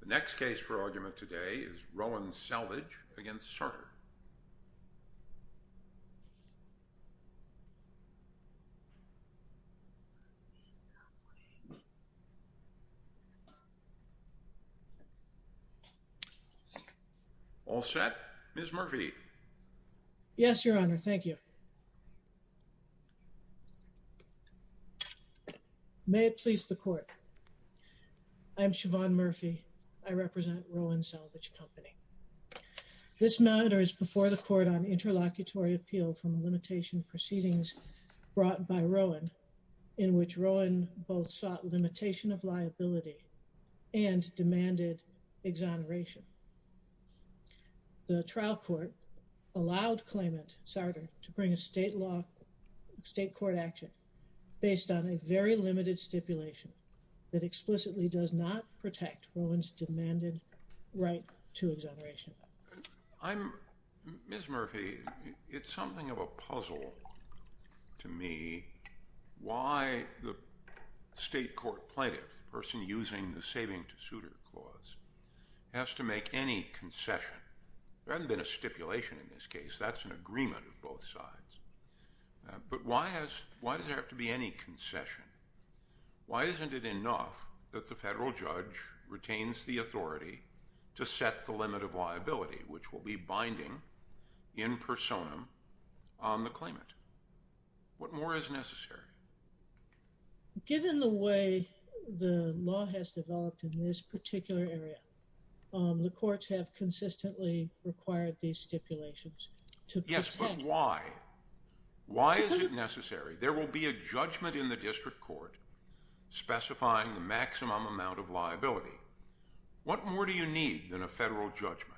The next case for argument today is Roen Salvage v. Sarter. All set? Ms. Murphy. Yes, Your Honor. Thank you. May it please the Court. I'm Siobhan Murphy. I represent Roen Salvage Company. This matter is before the Court on Interlocutory Appeal from Limitation Proceedings brought by Roen, in which Roen both sought limitation of liability and demanded exoneration. The trial court allowed claimant Sarter to bring a state court action based on a very limited stipulation that explicitly does not protect Roen's demanded right to exoneration. Ms. Murphy, it's something of a puzzle to me why the state court plaintiff, the person using the saving to suitor clause, has to make any concession. There hasn't been a stipulation in this case. That's an agreement of both sides. But why does there have to be any concession? Why isn't it enough that the federal judge retains the authority to set the limit of liability, which will be binding in personam on the claimant? What more is necessary? Given the way the law has developed in this particular area, the courts have consistently required these stipulations to protect… Why? Why is it necessary? There will be a judgment in the district court specifying the maximum amount of liability. What more do you need than a federal judgment?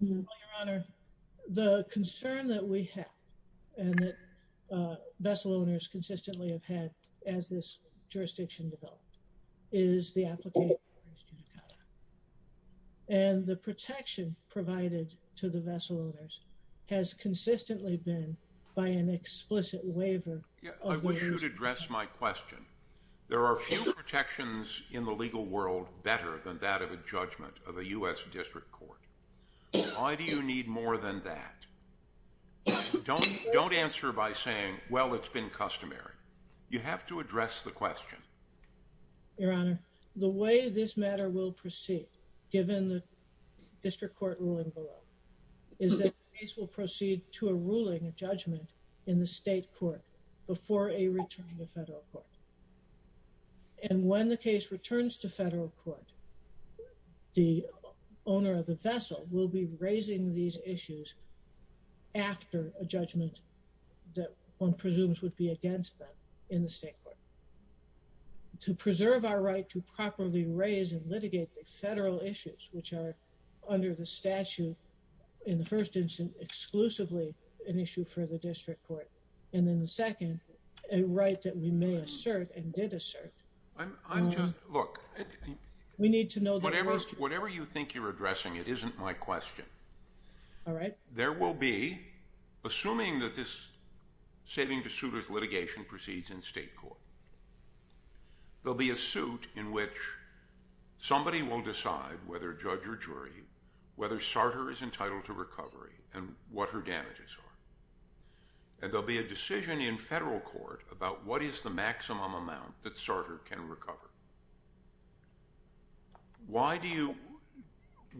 Well, Your Honor, the concern that we have and that vessel owners consistently have had as this jurisdiction developed is the application… And the protection provided to the vessel owners has consistently been by an explicit waiver… I should address my question. There are few protections in the legal world better than that of a judgment of a U.S. district court. Why do you need more than that? Don't answer by saying, well, it's been customary. You have to address the question. Your Honor, the way this matter will proceed, given the district court ruling below, is that the case will proceed to a ruling, a judgment, in the state court before a return to federal court. And when the case returns to federal court, the owner of the vessel will be raising these issues after a judgment that one presumes would be against them in the state court. To preserve our right to properly raise and litigate the federal issues, which are under the statute in the first instance exclusively an issue for the district court, and in the second, a right that we may assert and did assert… Look, whatever you think you're addressing, it isn't my question. There will be, assuming that this saving to suitors litigation proceeds in state court, there'll be a suit in which somebody will decide whether judge or jury, whether Sarter is entitled to recovery and what her damages are. And there'll be a decision in federal court about what is the maximum amount that Sarter can recover. Why do you…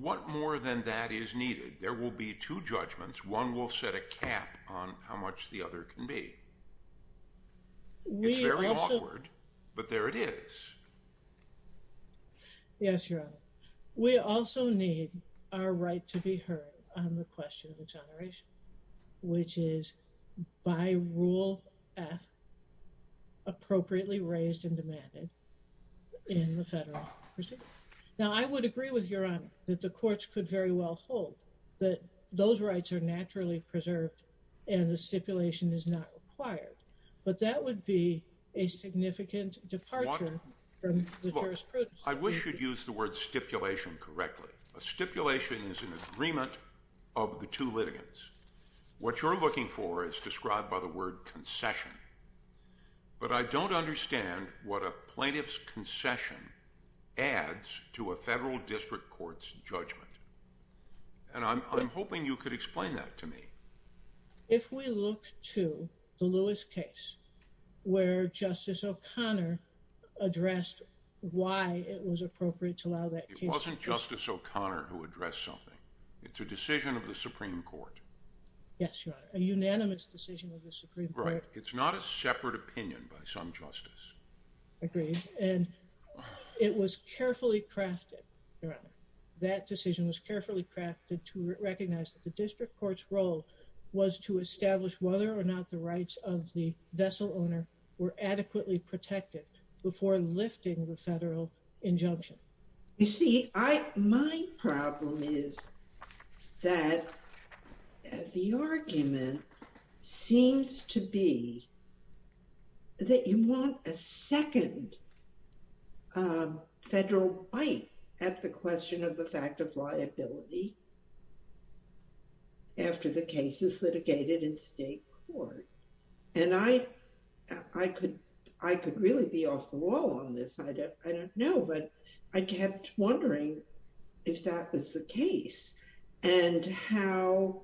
What more than that is needed? There will be two judgments. One will set a cap on how much the other can be. It's very awkward, but there it is. Yes, Your Honor. We also need our right to be heard on the question of exoneration, which is by Rule F appropriately raised and demanded in the federal procedure. Now, I would agree with Your Honor that the courts could very well hold that those rights are naturally preserved and the stipulation is not required, but that would be a significant departure from the jurisprudence. I wish you'd use the word stipulation correctly. A stipulation is an agreement of the two litigants. What you're looking for is described by the word concession, but I don't understand what a plaintiff's concession adds to a federal district court's judgment. And I'm hoping you could explain that to me. If we look to the Lewis case where Justice O'Connor addressed why it was appropriate to allow that case… It wasn't Justice O'Connor who addressed something. It's a decision of the Supreme Court. Yes, Your Honor. A unanimous decision of the Supreme Court. Right. It's not a separate opinion by some justice. Agreed. And it was carefully crafted, Your Honor. That decision was carefully crafted to recognize that the district court's role was to establish whether or not the rights of the vessel owner were adequately protected before lifting the federal injunction. You see, my problem is that the argument seems to be that you want a second federal bite at the question of the fact of liability after the case is litigated in state court. And I could really be off the wall on this. I don't know. But I kept wondering if that was the case and how,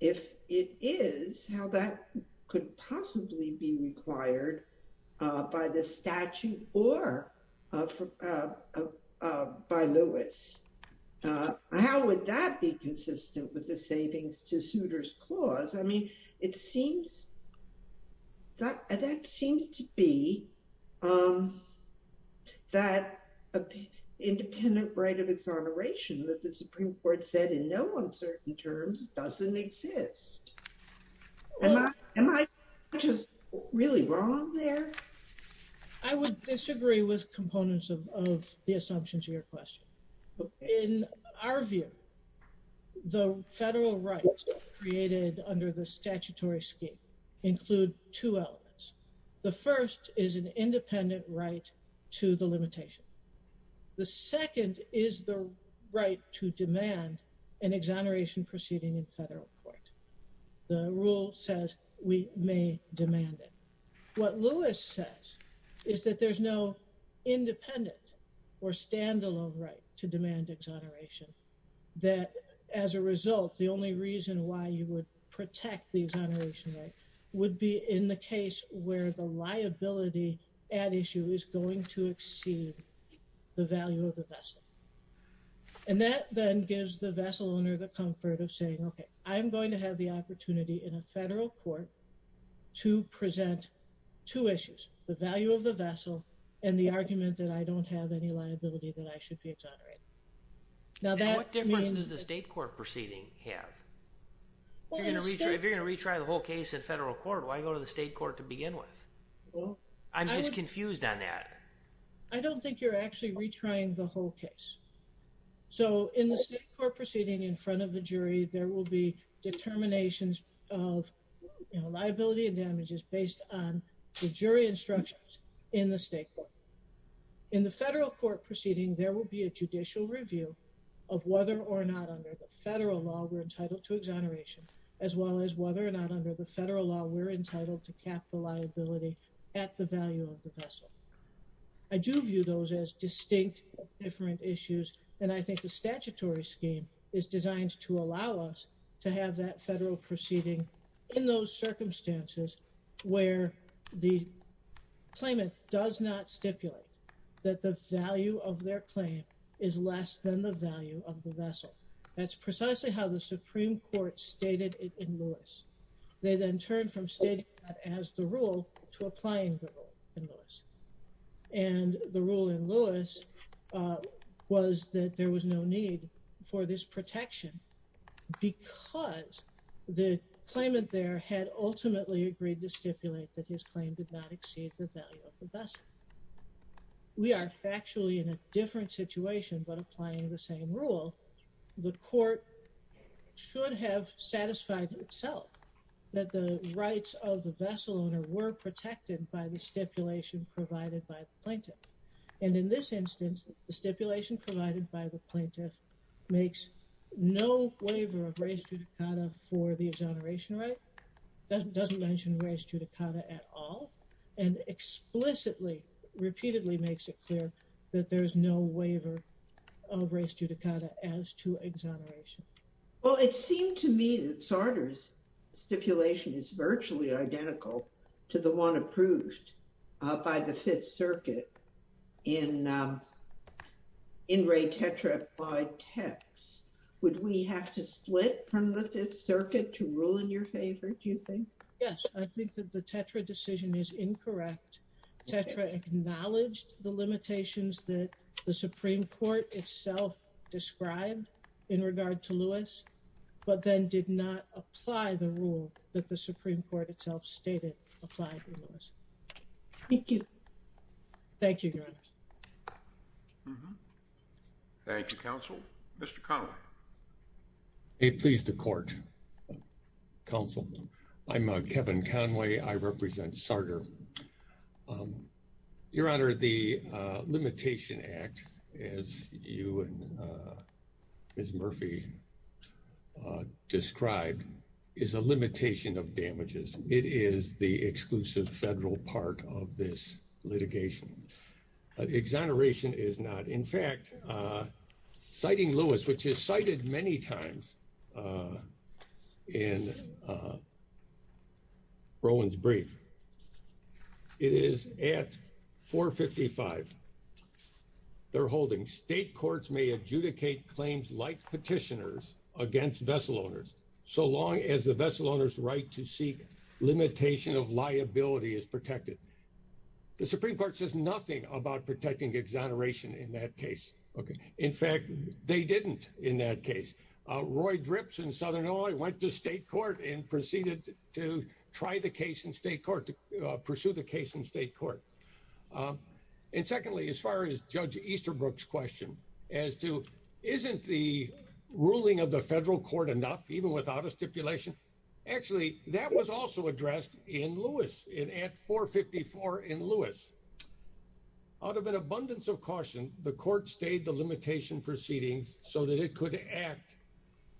if it is, how that could possibly be required by the statute or by Lewis. How would that be consistent with the savings to suitors clause? I mean, it seems that that seems to be that independent right of exoneration that the Supreme Court said in no uncertain terms doesn't exist. Am I really wrong there? I would disagree with components of the assumptions of your question. In our view, the federal rights created under the statutory scheme include two elements. The first is an independent right to the limitation. The second is the right to demand an exoneration proceeding in federal court. The rule says we may demand it. What Lewis says is that there's no independent or standalone right to demand exoneration. That as a result, the only reason why you would protect the exoneration right would be in the case where the liability at issue is going to exceed the value of the vessel. And that then gives the vessel owner the comfort of saying, okay, I'm going to have the opportunity in a federal court to present two issues, the value of the vessel and the argument that I don't have any liability that I should be exonerated. Now, what difference does the state court proceeding have? If you're going to retry the whole case in federal court, why go to the state court to begin with? I'm just confused on that. I don't think you're actually retrying the whole case. So in the state court proceeding in front of the jury, there will be determinations of liability and damages based on the jury instructions in the state court. In the federal court proceeding, there will be a judicial review of whether or not under the federal law we're entitled to exoneration, as well as whether or not under the federal law we're entitled to cap the liability at the value of the vessel. I do view those as distinct different issues. And I think the statutory scheme is designed to allow us to have that federal proceeding in those circumstances where the claimant does not stipulate that the value of their claim is less than the value of the vessel. That's precisely how the Supreme Court stated it in Lewis. They then turned from stating that as the rule to applying the rule in Lewis. And the rule in Lewis was that there was no need for this protection because the claimant there had ultimately agreed to stipulate that his claim did not exceed the value of the vessel. We are factually in a different situation, but applying the same rule, the court should have satisfied itself that the rights of the vessel owner were protected by the stipulation provided by the plaintiff. And in this instance, the stipulation provided by the plaintiff makes no waiver of res judicata for the exoneration right, doesn't mention res judicata at all, and explicitly repeatedly makes it clear that there is no waiver of res judicata as to exoneration. Well, it seemed to me that Sartor's stipulation is virtually identical to the one approved by the Fifth Circuit in Ray Tetra by Tex. Would we have to split from the Fifth Circuit to rule in your favor, do you think? Yes, I think that the Tetra decision is incorrect. Tetra acknowledged the limitations that the Supreme Court itself described in regard to Lewis, but then did not apply the rule that the Supreme Court itself stated applied in Lewis. Thank you. Thank you, Your Honor. Thank you, Counsel. Mr. Conway. May it please the court, Counsel. I'm Kevin Conway. I represent Sartor. Your Honor, the Limitation Act, as you and Ms. Murphy described, is a limitation of damages. It is the exclusive federal part of this litigation. Exoneration is not. In fact, citing Lewis, which is cited many times in Rowan's brief, it is at 455, they're holding state courts may adjudicate claims like petitioners against vessel owners so long as the vessel owner's right to seek limitation of liability is protected. The Supreme Court says nothing about protecting exoneration in that case. In fact, they didn't in that case. Roy Drips in Southern Illinois went to state court and proceeded to try the case in state court to pursue the case in state court. And secondly, as far as Judge Easterbrook's question as to isn't the ruling of the federal court enough, even without a stipulation, actually, that was also addressed in Lewis in at 454 in Lewis. Out of an abundance of caution, the court stayed the limitation proceedings so that it could act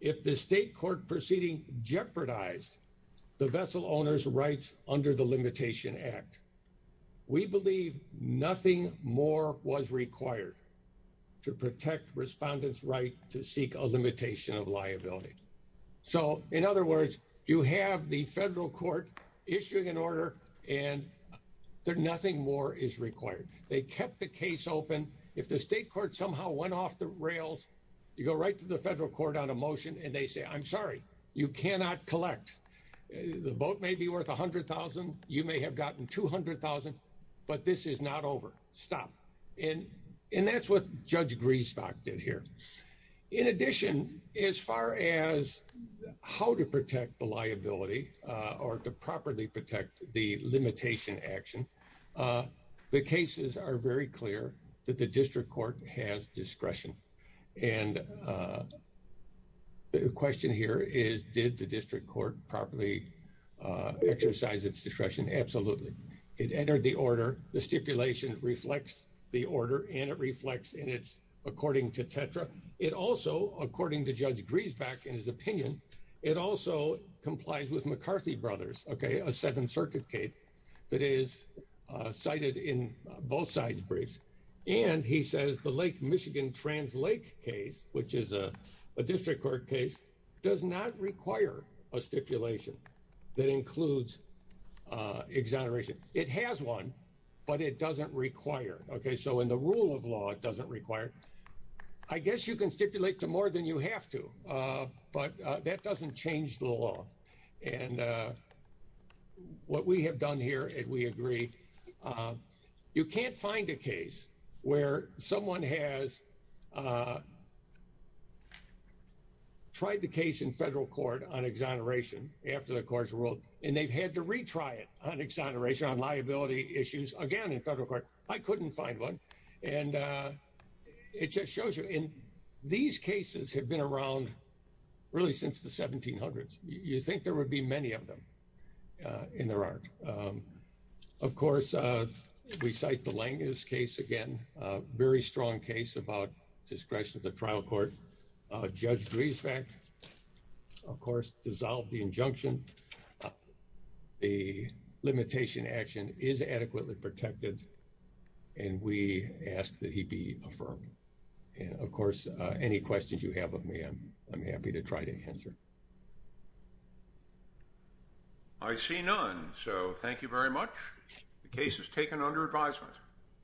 if the state court proceeding jeopardized the vessel owner's rights under the Limitation Act. We believe nothing more was required to protect respondents right to seek a limitation of liability. So, in other words, you have the federal court issuing an order and they're nothing more is required. They kept the case open. If the state court somehow went off the rails, you go right to the federal court on a motion and they say, I'm sorry, you cannot collect. The vote may be worth 100,000. You may have gotten 200,000, but this is not over. Stop. And that's what Judge Griesbach did here. In addition, as far as how to protect the liability or to properly protect the limitation action, the cases are very clear that the district court has discretion. And the question here is, did the district court properly exercise its discretion? Absolutely. It entered the order. The stipulation reflects the order and it reflects in its according to Tetra. It also, according to Judge Griesbach, in his opinion, it also complies with McCarthy Brothers, a Seventh Circuit case that is cited in both sides briefs. And he says the Lake Michigan Trans Lake case, which is a district court case, does not require a stipulation that includes exoneration. It has one, but it doesn't require. OK, so in the rule of law, it doesn't require. I guess you can stipulate to more than you have to. But that doesn't change the law. And what we have done here, if we agree, you can't find a case where someone has. Tried the case in federal court on exoneration after the courts ruled, and they've had to retry it on exoneration on liability issues again in federal court. I couldn't find one. And it just shows you in these cases have been around really since the 1700s. You think there would be many of them in there aren't. Of course, we cite the Lange's case again, a very strong case about discretion of the trial court. Judge Griesbach, of course, dissolved the injunction. The limitation action is adequately protected. And we ask that he be affirmed. And of course, any questions you have of me, I'm happy to try to answer. I see none. So thank you very much. The case is taken under advisement.